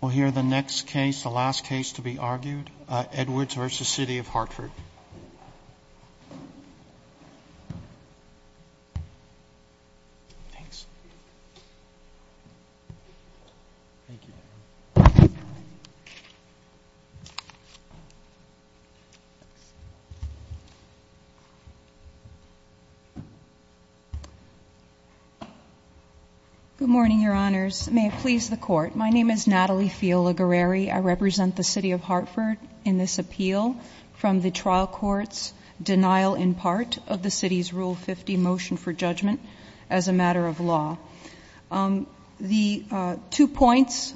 We'll hear the next case, the last case to be argued, Edwards v. City of Hartford. Natalie Fiala-Guerreri Good morning, Your Honors. May it please the Court, my name is Natalie Fiala-Guerreri. I represent the City of Hartford in this appeal from the trial court's denial in part of the City's Rule 50 motion for judgment as a matter of law. The two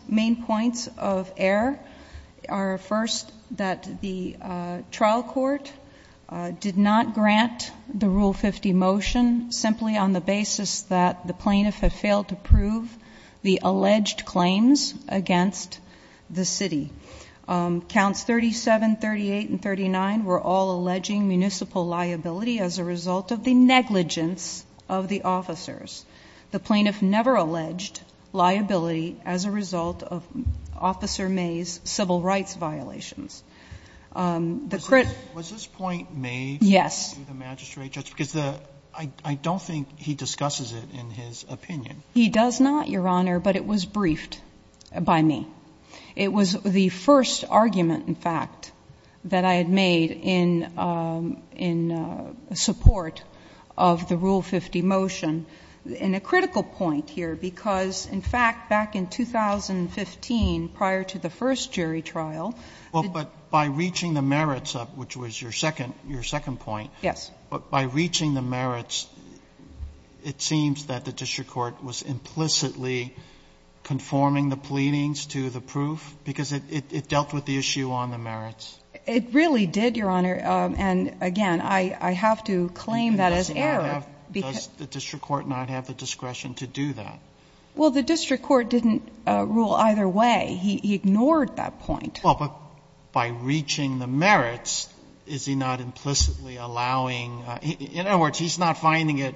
main points of error are, first, that the trial court did not grant the Rule 50 motion simply on the basis that the plaintiff had failed to prove the alleged claims against the City. Counts 37, 38, and 39 were all alleging municipal liability as a result of the negligence of the officers. The plaintiff never alleged liability as a result of Officer May's civil rights violations. The criminal – Roberts Was this point made – Fiala-Guerreri Yes. Roberts – by the magistrate judge? Because I don't think he discusses it in his opinion. Fiala-Guerreri He does not, Your Honor, but it was briefed by me. It was the first argument, in fact, that I had made in support of the Rule 50 motion. And a critical point here, because, in fact, back in 2015, prior to the first jury trial – Roberts – well, but by reaching the merits, which was your second point – Fiala-Guerreri Yes. Roberts – by reaching the merits, it seems that the district court was implicitly conforming the pleadings to the proof, because it dealt with the issue on the merits. Fiala-Guerreri It really did, Your Honor. And, again, I have to claim that as error, because – Roberts – does the district court not have the discretion to do that? Fiala-Guerreri Well, the district court didn't rule either way. He ignored that point. Sotomayor Well, but by reaching the merits, is he not implicitly allowing – in other words, he's not finding it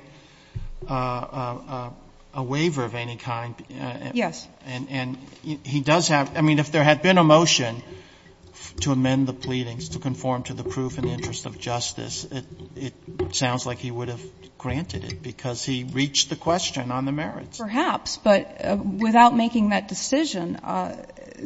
a waiver of any kind. Fiala-Guerreri Yes. Sotomayor And he does have – I mean, if there had been a motion to amend the pleadings to conform to the proof in the interest of justice, it sounds like he would have without making that decision.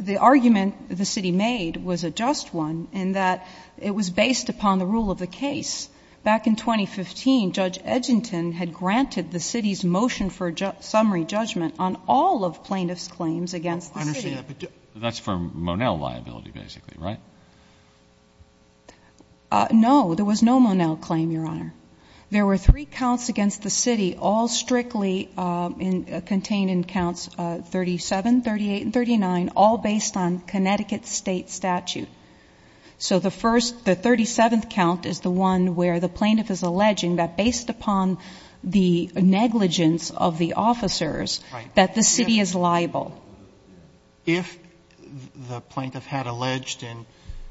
The argument the city made was a just one in that it was based upon the rule of the case. Back in 2015, Judge Edginton had granted the city's motion for summary judgment on all of plaintiff's claims against the city. Roberts – I understand that, but that's for Monell liability, basically, right? Fiala-Guerreri No. There was no Monell claim, Your Honor. There were three counts against the city, all strictly contained in counts 37, 38, and 39, all based on Connecticut state statute. So the first – the 37th count is the one where the plaintiff is alleging that based upon the negligence of the officers that the city is liable. Roberts – If the plaintiff had alleged in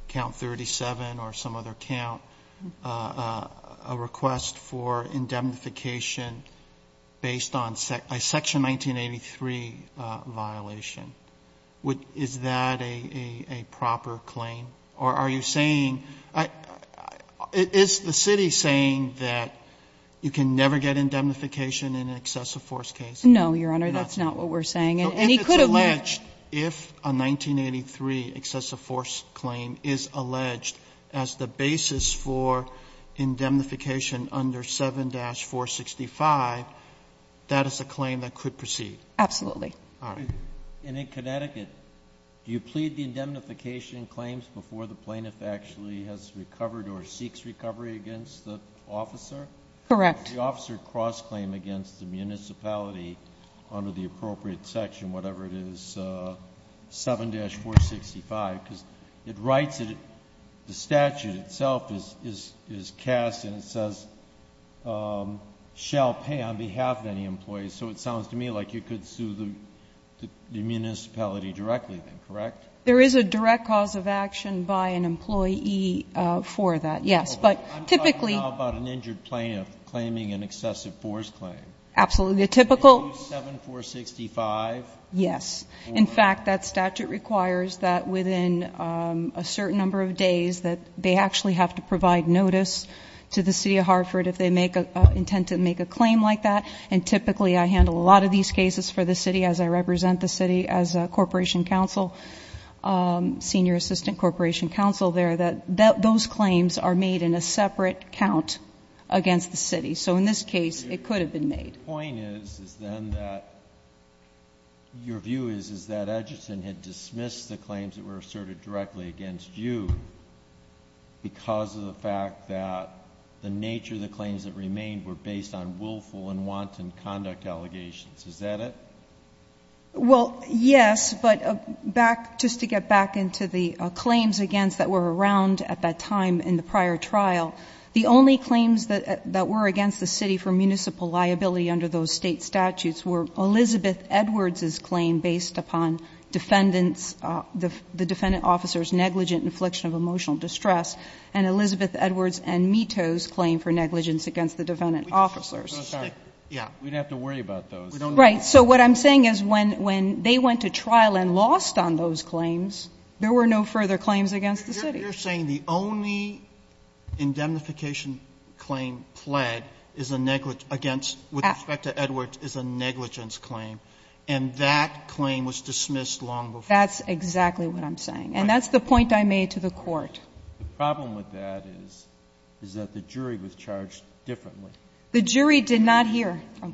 count 37 or some other count a request for indemnification based on a section 1983 violation, is that a proper claim? Or are you saying – is the city saying that you can never get indemnification Fiala-Guerreri No, Your Honor. That's not what we're saying. And he could have – Roberts – So if it's alleged, if a 1983 excessive force claim is alleged as the basis for indemnification under 7-465, that is a claim that could proceed? Fiala-Guerreri Absolutely. Roberts – All right. Kennedy – And in Connecticut, do you plead the indemnification claims before the plaintiff actually has recovered or seeks recovery against the officer? Fiala-Guerreri Correct. Kennedy – If the officer cross-claimed against the municipality under the appropriate section, whatever it is, 7-465, because it writes that the statute itself is cast and it says, shall pay on behalf of any employee. So it sounds to me like you could sue the municipality directly then, correct? Fiala-Guerreri There is a direct cause of action by an employee for that, yes. But typically – Kagan – Absolutely. The typical – Fiala-Guerreri Yes. In fact, that statute requires that within a certain number of days that they actually have to provide notice to the City of Hartford if they make a – intend to make a claim like that. And typically, I handle a lot of these cases for the city as I represent the city as a corporation counsel, senior assistant corporation counsel there, that those claims are made in a separate count against the city. So in this case, it could have been made. Breyer – The point is then that your view is that Edgerton had dismissed the claims that were asserted directly against you because of the fact that the nature of the claims that remained were based on willful and wanton conduct allegations. Is that it? Fiala-Guerreri Well, yes. But back – just to get back into the claims against that were around at that time in the prior trial, the only claims that were against the city for municipal liability under those State statutes were Elizabeth Edwards's claim based upon defendants – the defendant officers' negligent infliction of emotional distress and Elizabeth Edwards and Mito's claim for negligence against the defendant officers. Roberts – I'm so sorry. We'd have to worry about those. Fiala-Guerreri Right. So what I'm saying is when they went to trial and lost on those claims, there were no further claims against the city. Roberts – You're saying the only indemnification claim pled is a negligent against – with respect to Edwards is a negligence claim, and that claim was dismissed long before. Fiala-Guerreri That's exactly what I'm saying. And that's the point I made to the Court. Breyer – The problem with that is, is that the jury was charged differently. I'm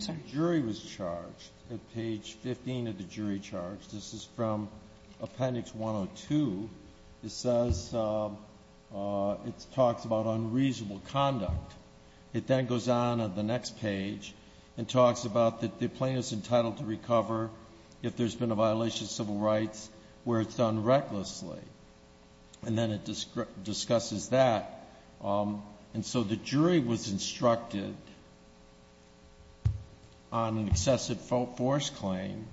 sorry. The jury was charged at page 15 of the jury charge. This is from Appendix 102. It says – it talks about unreasonable conduct. It then goes on to the next page and talks about that the plaintiff's entitled to recover if there's been a violation of civil rights where it's done recklessly. And then it discusses that. And so the jury was instructed on an excessive force claim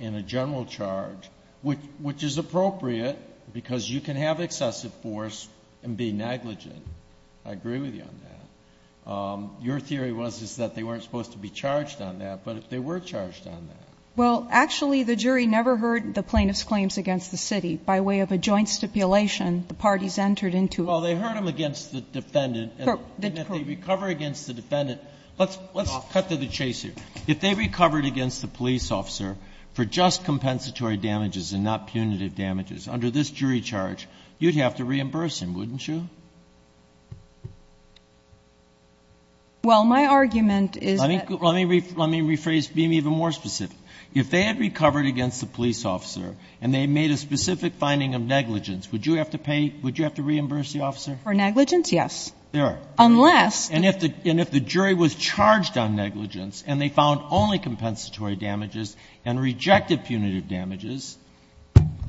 in a general charge, which is appropriate because you can have excessive force and be negligent. I agree with you on that. Your theory was that they weren't supposed to be charged on that, but they were Fiala-Guerreri Well, actually, the jury never heard the plaintiff's claims against the city. By way of a joint stipulation, the parties entered into – Kagan – And that they recover against the defendant. Kagan – And that they recover against the defendant. Let's cut to the chase here. If they recovered against the police officer for just compensatory damages and not punitive damages under this jury charge, you'd have to reimburse him, wouldn't you? Well, my argument is that – Let me rephrase, be even more specific. If they had recovered against the police officer and they made a specific finding of negligence, would you have to pay – would you have to reimburse the officer? For negligence, yes. There are. Unless – And if the jury was charged on negligence and they found only compensatory damages and rejected punitive damages,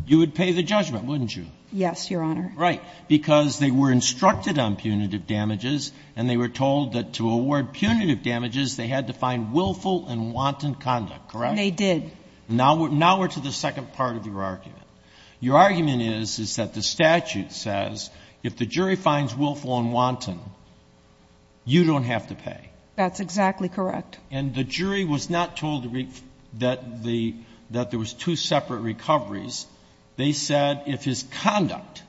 you would pay the judgment, wouldn't you? Yes, Your Honor. Right. Because they were instructed on punitive damages and they were told that to award punitive damages, they had to find willful and wanton conduct, correct? They did. Now we're to the second part of your argument. Your argument is, is that the statute says if the jury finds willful and wanton, you don't have to pay. That's exactly correct. And the jury was not told that the – that there was two separate recoveries. They said if his conduct,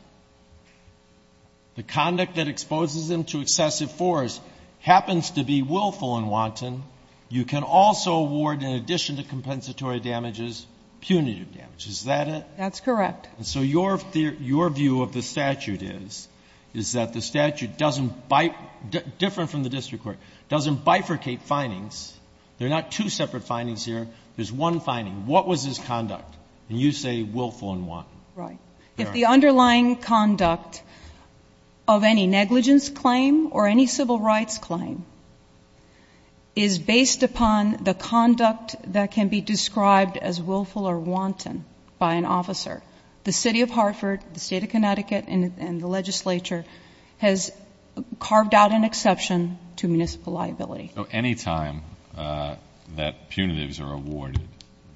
the conduct that exposes him to excessive force, happens to be willful and wanton, you can also award, in addition to compensatory damages, punitive damages. That's correct. And so your view of the statute is, is that the statute doesn't – different from the district court – doesn't bifurcate findings. There are not two separate findings here. There's one finding. What was his conduct? And you say willful and wanton. Right. If the underlying conduct of any negligence claim or any civil rights claim is based upon the conduct that can be described as willful or wanton by an officer, the City of Hartford, the State of Connecticut, and the legislature has carved out an exception to municipal liability. So any time that punitives are awarded,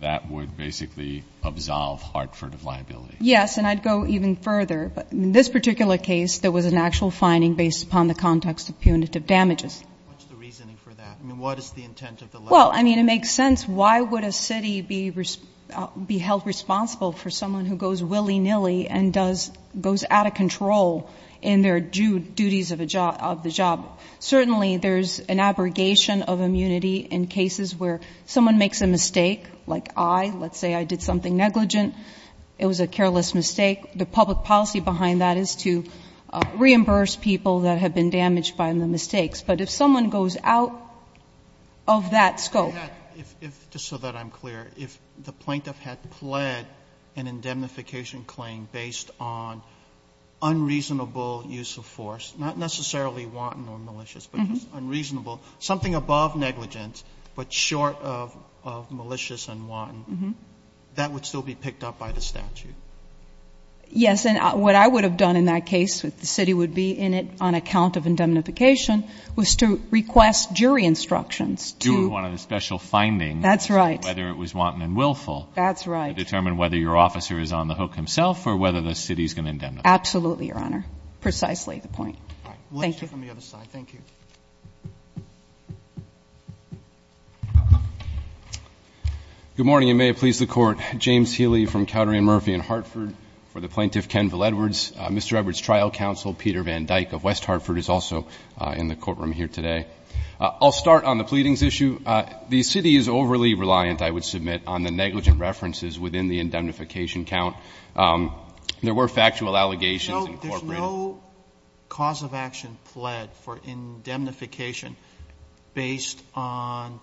that would basically absolve Hartford of liability? Yes. And I'd go even further. But in this particular case, there was an actual finding based upon the context of punitive damages. What's the reasoning for that? I mean, what is the intent of the letter? Well, I mean, it makes sense. Why would a city be held responsible for someone who goes willy-nilly and goes out of control in their duties of the job? Certainly, there's an abrogation of immunity in cases where someone makes a mistake, like I. Let's say I did something negligent. It was a careless mistake. The public policy behind that is to reimburse people that have been damaged by the mistakes. But if someone goes out of that scope. Just so that I'm clear, if the plaintiff had pled an indemnification claim based on unreasonable use of force, not necessarily wanton or malicious, but just unreasonable, something above negligence but short of malicious and wanton, that would still be picked up by the statute? Yes. And what I would have done in that case, the city would be in it on account of was to request jury instructions to. Do one of the special findings. That's right. Whether it was wanton and willful. That's right. To determine whether your officer is on the hook himself or whether the city is going to indemnify him. Absolutely, Your Honor. Precisely the point. Thank you. We'll answer from the other side. Thank you. Good morning, and may it please the Court. James Healy from Cowdery and Murphy in Hartford for the plaintiff, Ken Val Edwards. Mr. Edwards' trial counsel, Peter Van Dyck of West Hartford, is also in the courtroom here today. I'll start on the pleadings issue. The city is overly reliant, I would submit, on the negligent references within the indemnification count. There were factual allegations incorporated. There's no cause of action pled for indemnification based on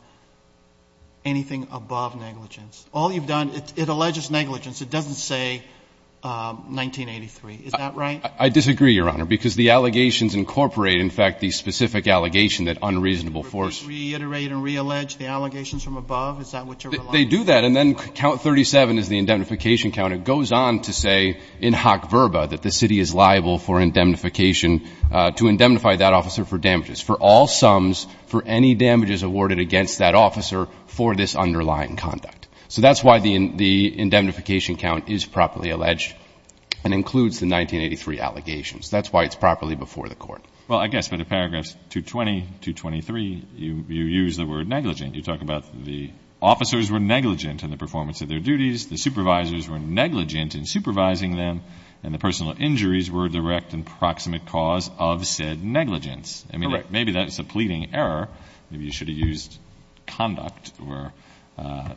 anything above negligence. All you've done, it alleges negligence. It doesn't say 1983. Is that right? I disagree, Your Honor, because the allegations incorporate, in fact, the specific allegation that unreasonable force. Reiterate and reallege the allegations from above? Is that what you're relying on? They do that, and then count 37 is the indemnification count. It goes on to say in hoc verba that the city is liable for indemnification to indemnify that officer for damages, for all sums for any damages awarded against that officer for this underlying conduct. So that's why the indemnification count is properly alleged and includes the 1983 allegations. That's why it's properly before the court. Well, I guess by the paragraphs 220, 223, you use the word negligent. You talk about the officers were negligent in the performance of their duties, the supervisors were negligent in supervising them, and the personal injuries were a direct and proximate cause of said negligence. Correct. Maybe that's a pleading error. Maybe you should have used conduct or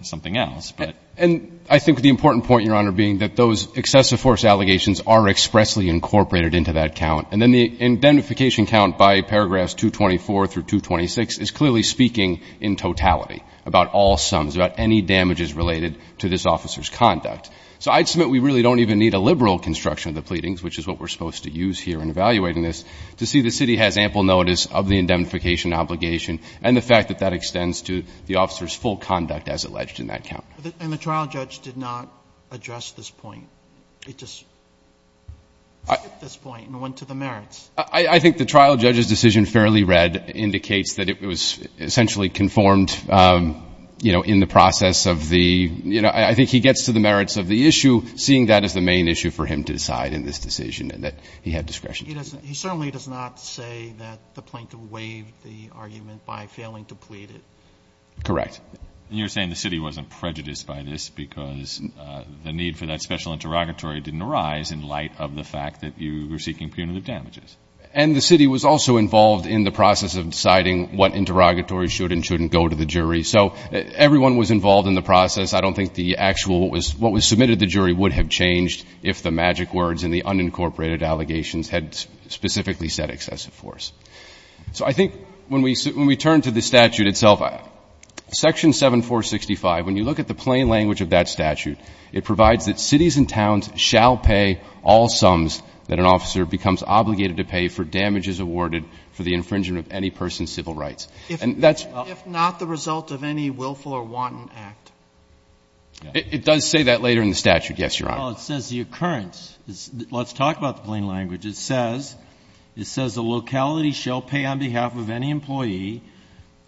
something else. And I think the important point, Your Honor, being that those excessive force allegations are expressly incorporated into that count. And then the indemnification count by paragraphs 224 through 226 is clearly speaking in totality about all sums, about any damages related to this officer's conduct. So I'd submit we really don't even need a liberal construction of the pleadings, which is what we're supposed to use here in evaluating this, to see the city has an indemnification obligation and the fact that that extends to the officer's full conduct as alleged in that count. And the trial judge did not address this point. It just skipped this point and went to the merits. I think the trial judge's decision, fairly read, indicates that it was essentially conformed, you know, in the process of the, you know, I think he gets to the merits of the issue, seeing that as the main issue for him to decide in this decision and that he had discretion to do that. He certainly does not say that the plaintiff waived the argument by failing to plead it. Correct. And you're saying the city wasn't prejudiced by this because the need for that special interrogatory didn't arise in light of the fact that you were seeking punitive damages. And the city was also involved in the process of deciding what interrogatory should and shouldn't go to the jury. So everyone was involved in the process. I don't think the actual, what was submitted to the jury would have changed if the jury had specifically said excessive force. So I think when we turn to the statute itself, Section 7465, when you look at the plain language of that statute, it provides that cities and towns shall pay all sums that an officer becomes obligated to pay for damages awarded for the infringement of any person's civil rights. If not the result of any willful or wanton act. It does say that later in the statute, yes, Your Honor. Well, it says the occurrence. Let's talk about the plain language. It says, it says the locality shall pay on behalf of any employee.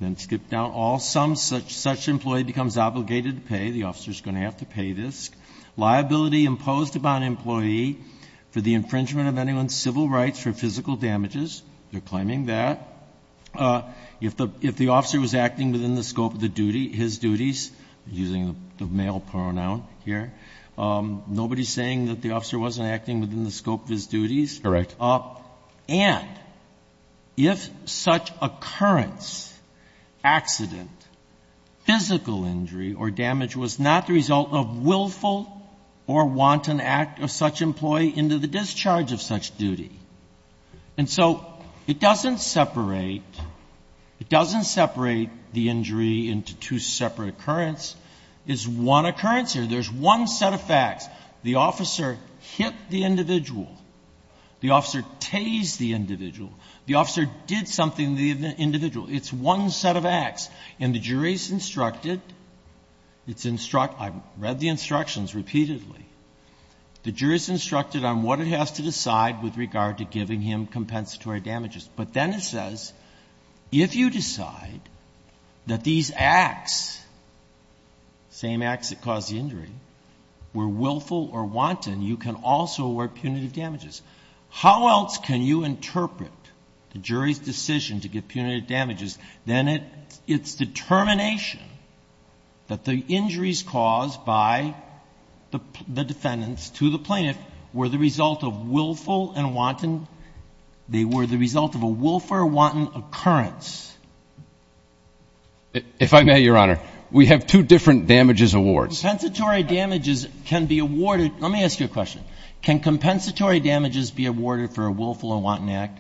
Then skip down all sums such that such an employee becomes obligated to pay. The officer is going to have to pay this. Liability imposed upon an employee for the infringement of anyone's civil rights for physical damages. They're claiming that. If the officer was acting within the scope of the duty, his duties, using the male pronoun here. Nobody is saying that the officer wasn't acting within the scope of his duties. Correct. And if such occurrence, accident, physical injury or damage was not the result of willful or wanton act of such employee into the discharge of such duty. And so it doesn't separate, it doesn't separate the injury into two separate occurrence. It's one occurrence here. There's one set of facts. The officer hit the individual. The officer tased the individual. The officer did something to the individual. It's one set of acts. And the jury's instructed, it's instruct, I've read the instructions repeatedly, the jury's instructed on what it has to decide with regard to giving him compensatory damages. But then it says, if you decide that these acts, same acts that caused the injury, were willful or wanton, you can also award punitive damages. How else can you interpret the jury's decision to give punitive damages than its determination that the injuries caused by the defendants to the plaintiff were the result of willful and wanton, they were the result of a willful or wanton occurrence? If I may, Your Honor, we have two different damages awards. Compensatory damages can be awarded. Let me ask you a question. Can compensatory damages be awarded for a willful or wanton act?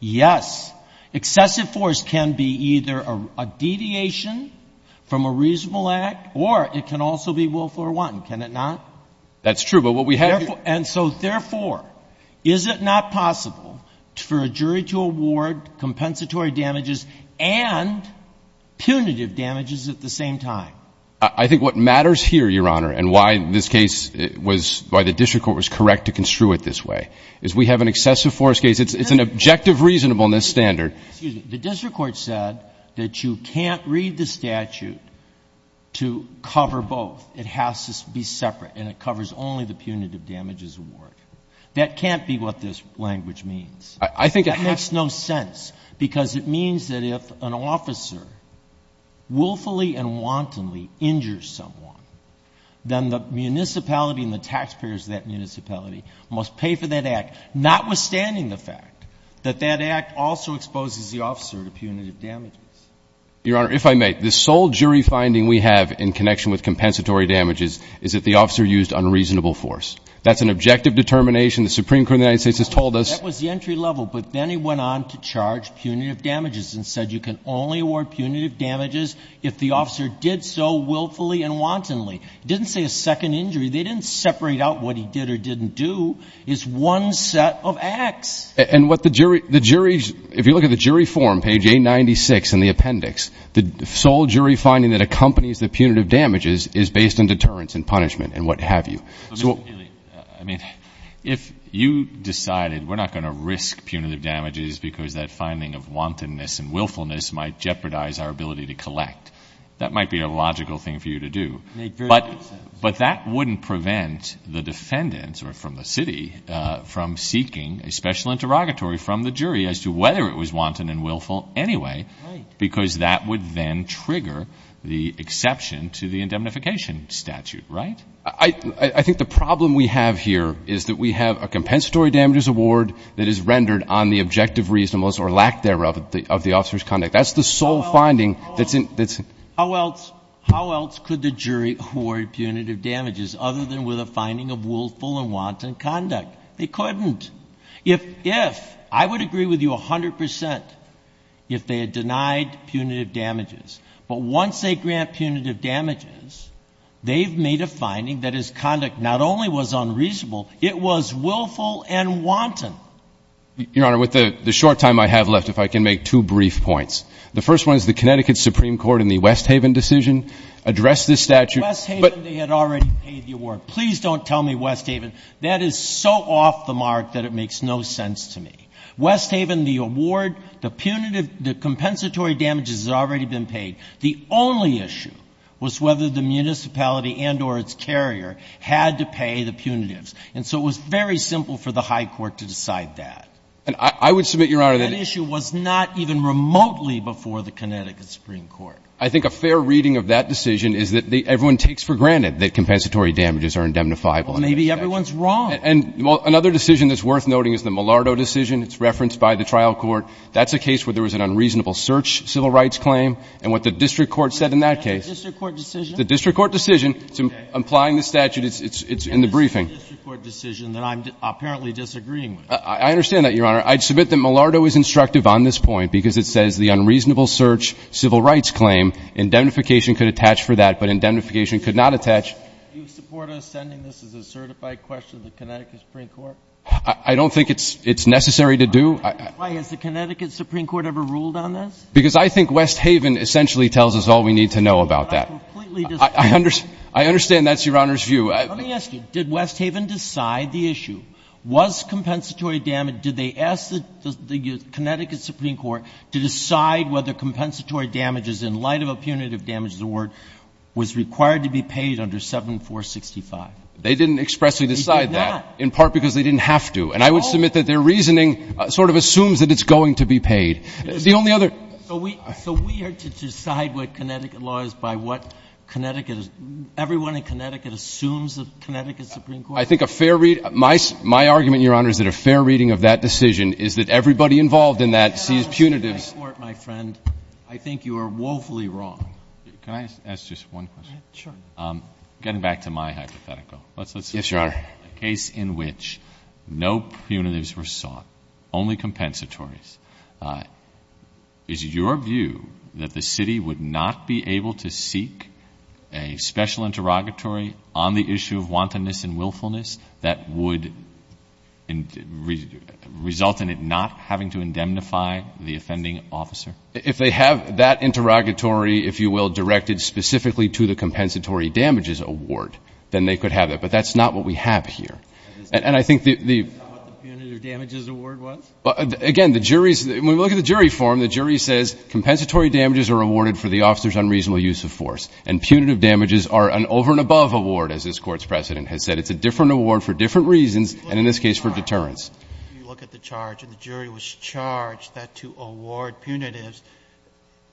Yes. Excessive force can be either a deviation from a reasonable act or it can also be willful or wanton. Can it not? That's true. But what we have here And so, therefore, is it not possible for a jury to award compensatory damages and punitive damages at the same time? I think what matters here, Your Honor, and why this case was, why the district court was correct to construe it this way, is we have an excessive force case. It's an objective reasonableness standard. Excuse me. The district court said that you can't read the statute to cover both. It has to be separate and it covers only the punitive damages award. That can't be what this language means. I think it has. That makes no sense because it means that if an officer willfully and wantonly injures someone, then the municipality and the taxpayers of that municipality must pay for that act, notwithstanding the fact that that act also exposes the officer to punitive damages. Your Honor, if I may, the sole jury finding we have in connection with compensatory damages is that the officer used unreasonable force. That's an objective determination. The Supreme Court of the United States has told us. That was the entry level. But then he went on to charge punitive damages and said you can only award punitive damages if the officer did so willfully and wantonly. It didn't say a second injury. They didn't separate out what he did or didn't do. It's one set of acts. And what the jury, the jury, if you look at the jury form, page 896 in the appendix, the sole jury finding that accompanies the punitive damages is based on deterrence and punishment and what have you. I mean, if you decided we're not going to risk punitive damages because that finding of wantonness and willfulness might jeopardize our ability to collect, that might be a logical thing for you to do. But that wouldn't prevent the defendants or from the city from seeking a special interrogatory from the jury as to whether it was wanton and willful anyway, because that would then trigger the exception to the indemnification statute, right? So I think the problem we have here is that we have a compensatory damages award that is rendered on the objective reasonableness or lack thereof of the officer's conduct. That's the sole finding that's in ---- How else, how else could the jury award punitive damages other than with a finding of willful and wanton conduct? They couldn't. If, if, I would agree with you 100 percent if they had denied punitive damages. But once they grant punitive damages, they've made a finding that his conduct not only was unreasonable, it was willful and wanton. Your Honor, with the short time I have left, if I can make two brief points. The first one is the Connecticut Supreme Court in the Westhaven decision addressed this statute. Westhaven, they had already paid the award. Please don't tell me Westhaven. That is so off the mark that it makes no sense to me. Westhaven, the award, the punitive, the compensatory damages had already been paid. The only issue was whether the municipality and or its carrier had to pay the punitives. And so it was very simple for the high court to decide that. And I would submit, Your Honor, that issue was not even remotely before the Connecticut Supreme Court. I think a fair reading of that decision is that everyone takes for granted that compensatory damages are indemnifiable. Well, maybe everyone's wrong. And another decision that's worth noting is the Milardo decision. It's referenced by the trial court. That's a case where there was an unreasonable search civil rights claim. And what the district court said in that case. The district court decision? The district court decision. It's implying the statute. It's in the briefing. And this is a district court decision that I'm apparently disagreeing with. I understand that, Your Honor. I submit that Milardo is instructive on this point because it says the unreasonable search civil rights claim, indemnification could attach for that, but indemnification could not attach. Do you support us sending this as a certified question to the Connecticut Supreme Court? I don't think it's necessary to do. Why? Has the Connecticut Supreme Court ever ruled on this? Because I think West Haven essentially tells us all we need to know about that. But I completely disagree. I understand that's Your Honor's view. Let me ask you. Did West Haven decide the issue? Was compensatory damage – did they ask the Connecticut Supreme Court to decide whether compensatory damages in light of a punitive damages award was required to be paid under 7465? They didn't expressly decide that. They did not. In part because they didn't have to. And I would submit that their reasoning sort of assumes that it's going to be paid. The only other – So we are to decide what Connecticut law is by what Connecticut – everyone in Connecticut assumes the Connecticut Supreme Court – I think a fair – my argument, Your Honor, is that a fair reading of that decision is that everybody involved in that sees punitives – Your Honor, in my court, my friend, I think you are woefully wrong. Can I ask just one question? Sure. Getting back to my hypothetical, let's – Yes, Your Honor. A case in which no punitives were sought, only compensatories. Is your view that the city would not be able to seek a special interrogatory on the issue of wantonness and willfulness that would result in it not having to indemnify the offending officer? If they have that interrogatory, if you will, directed specifically to the compensatory damages award, then they could have it. But that's not what we have here. And I think the – Is that what the punitive damages award was? Again, the jury's – when we look at the jury form, the jury says compensatory damages are awarded for the officer's unreasonable use of force, and punitive damages are an over and above award, as this Court's precedent has said. It's a different award for different reasons, and in this case for deterrence. If you look at the charge, and the jury was charged that to award punitives,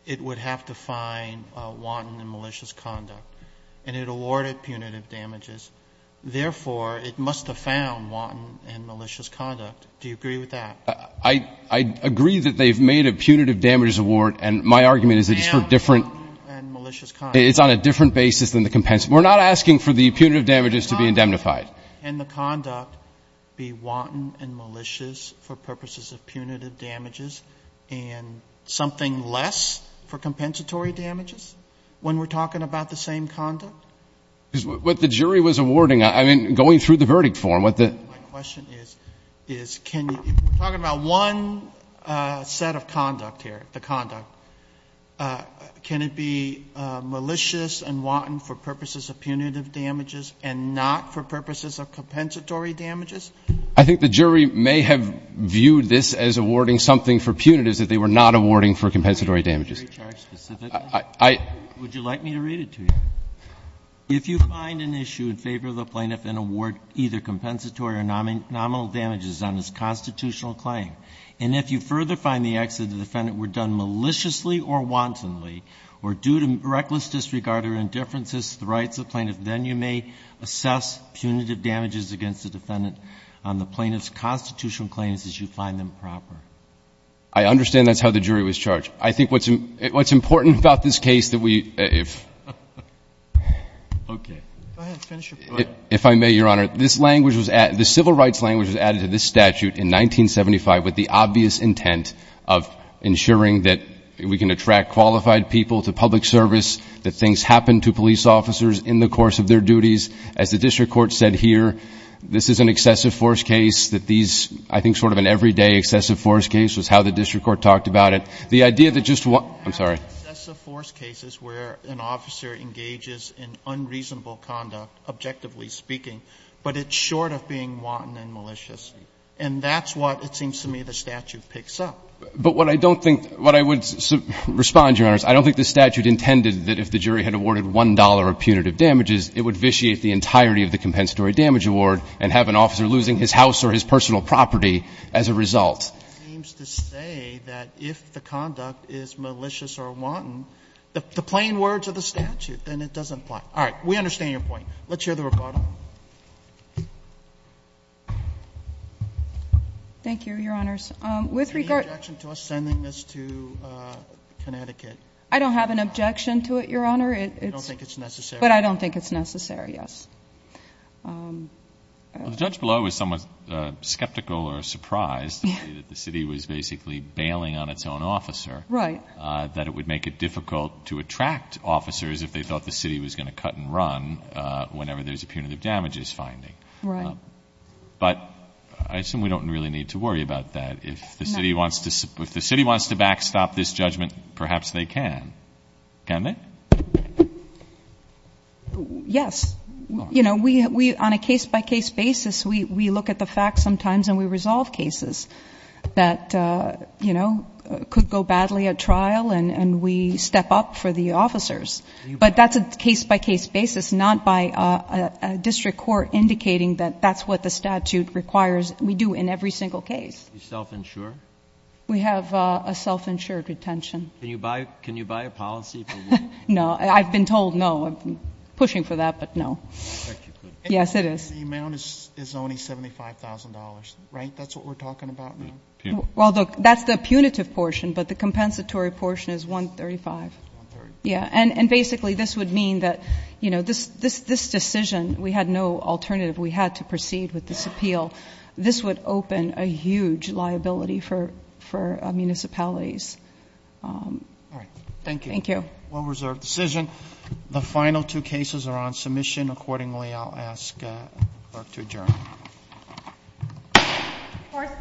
it would have to find wanton and malicious conduct, and it awarded punitive damages. Therefore, it must have found wanton and malicious conduct. Do you agree with that? I agree that they've made a punitive damages award, and my argument is it's for different – Wanton and malicious conduct. It's on a different basis than the compensatory. We're not asking for the punitive damages to be indemnified. Can the conduct be wanton and malicious for purposes of punitive damages, and something less for compensatory damages, when we're talking about the same conduct? Because what the jury was awarding – I mean, going through the verdict form, what the – My question is, is can – we're talking about one set of conduct here, the conduct. Can it be malicious and wanton for purposes of punitive damages, and not for purposes of compensatory damages? I think the jury may have viewed this as awarding something for punitives that they were not awarding for compensatory damages. Would you like me to read it to you? If you find an issue in favor of the plaintiff and award either compensatory or nominal damages on his constitutional claim, and if you further find the acts of the defendant were done maliciously or wantonly, or due to reckless disregard or indifferences to the rights of the plaintiff, then you may assess punitive damages against the defendant on the plaintiff's constitutional claims as you find them proper. I understand that's how the jury was charged. I think what's – what's important about this case that we – if – Okay. Go ahead. Finish your point. If I may, Your Honor, this language was – the civil rights language was added to this statute in 1975 with the obvious intent of ensuring that we can attract qualified people to public service, that things happen to police officers in the course of their duties. As the district court said here, this is an excessive force case that these – I think sort of an everyday excessive force case was how the district court talked about it. The idea that just – I'm sorry. An excessive force case is where an officer engages in unreasonable conduct, objectively speaking, but it's short of being wanton and malicious. And that's what it seems to me the statute picks up. But what I don't think – what I would respond, Your Honors, I don't think the statute intended that if the jury had awarded $1 of punitive damages, it would vitiate the entirety of the compensatory damage award and have an officer losing his house or his personal property as a result. It seems to say that if the conduct is malicious or wanton, the plain words of the statute, then it doesn't apply. All right. We understand your point. Let's hear the regarder. Thank you, Your Honors. Is there any objection to us sending this to Connecticut? I don't have an objection to it, Your Honor. I don't think it's necessary. But I don't think it's necessary, yes. Well, the judge below is somewhat skeptical or surprised that the city was basically bailing on its own officer. Right. That it would make it difficult to attract officers if they thought the city was going to cut and run whenever there's a punitive damages finding. Right. But I assume we don't really need to worry about that. If the city wants to backstop this judgment, perhaps they can. Can they? Yes. You know, we, on a case-by-case basis, we look at the facts sometimes and we resolve cases that, you know, could go badly at trial and we step up for the officers. But that's a case-by-case basis, not by a district court indicating that that's what the statute requires we do in every single case. Are you self-insured? We have a self-insured retention. Can you buy a policy? No. I've been told no. I'm pushing for that, but no. Yes, it is. The amount is only $75,000, right? That's what we're talking about now? Well, that's the punitive portion, but the compensatory portion is $135,000. Yeah. And basically, this would mean that, you know, this decision, we had no alternative. We had to proceed with this appeal. This would open a huge liability for municipalities. All right. Thank you. Thank you. Well-reserved decision. The final two cases are on submission. Accordingly, I'll ask Clark to adjourn. Court is adjourned. Thank you.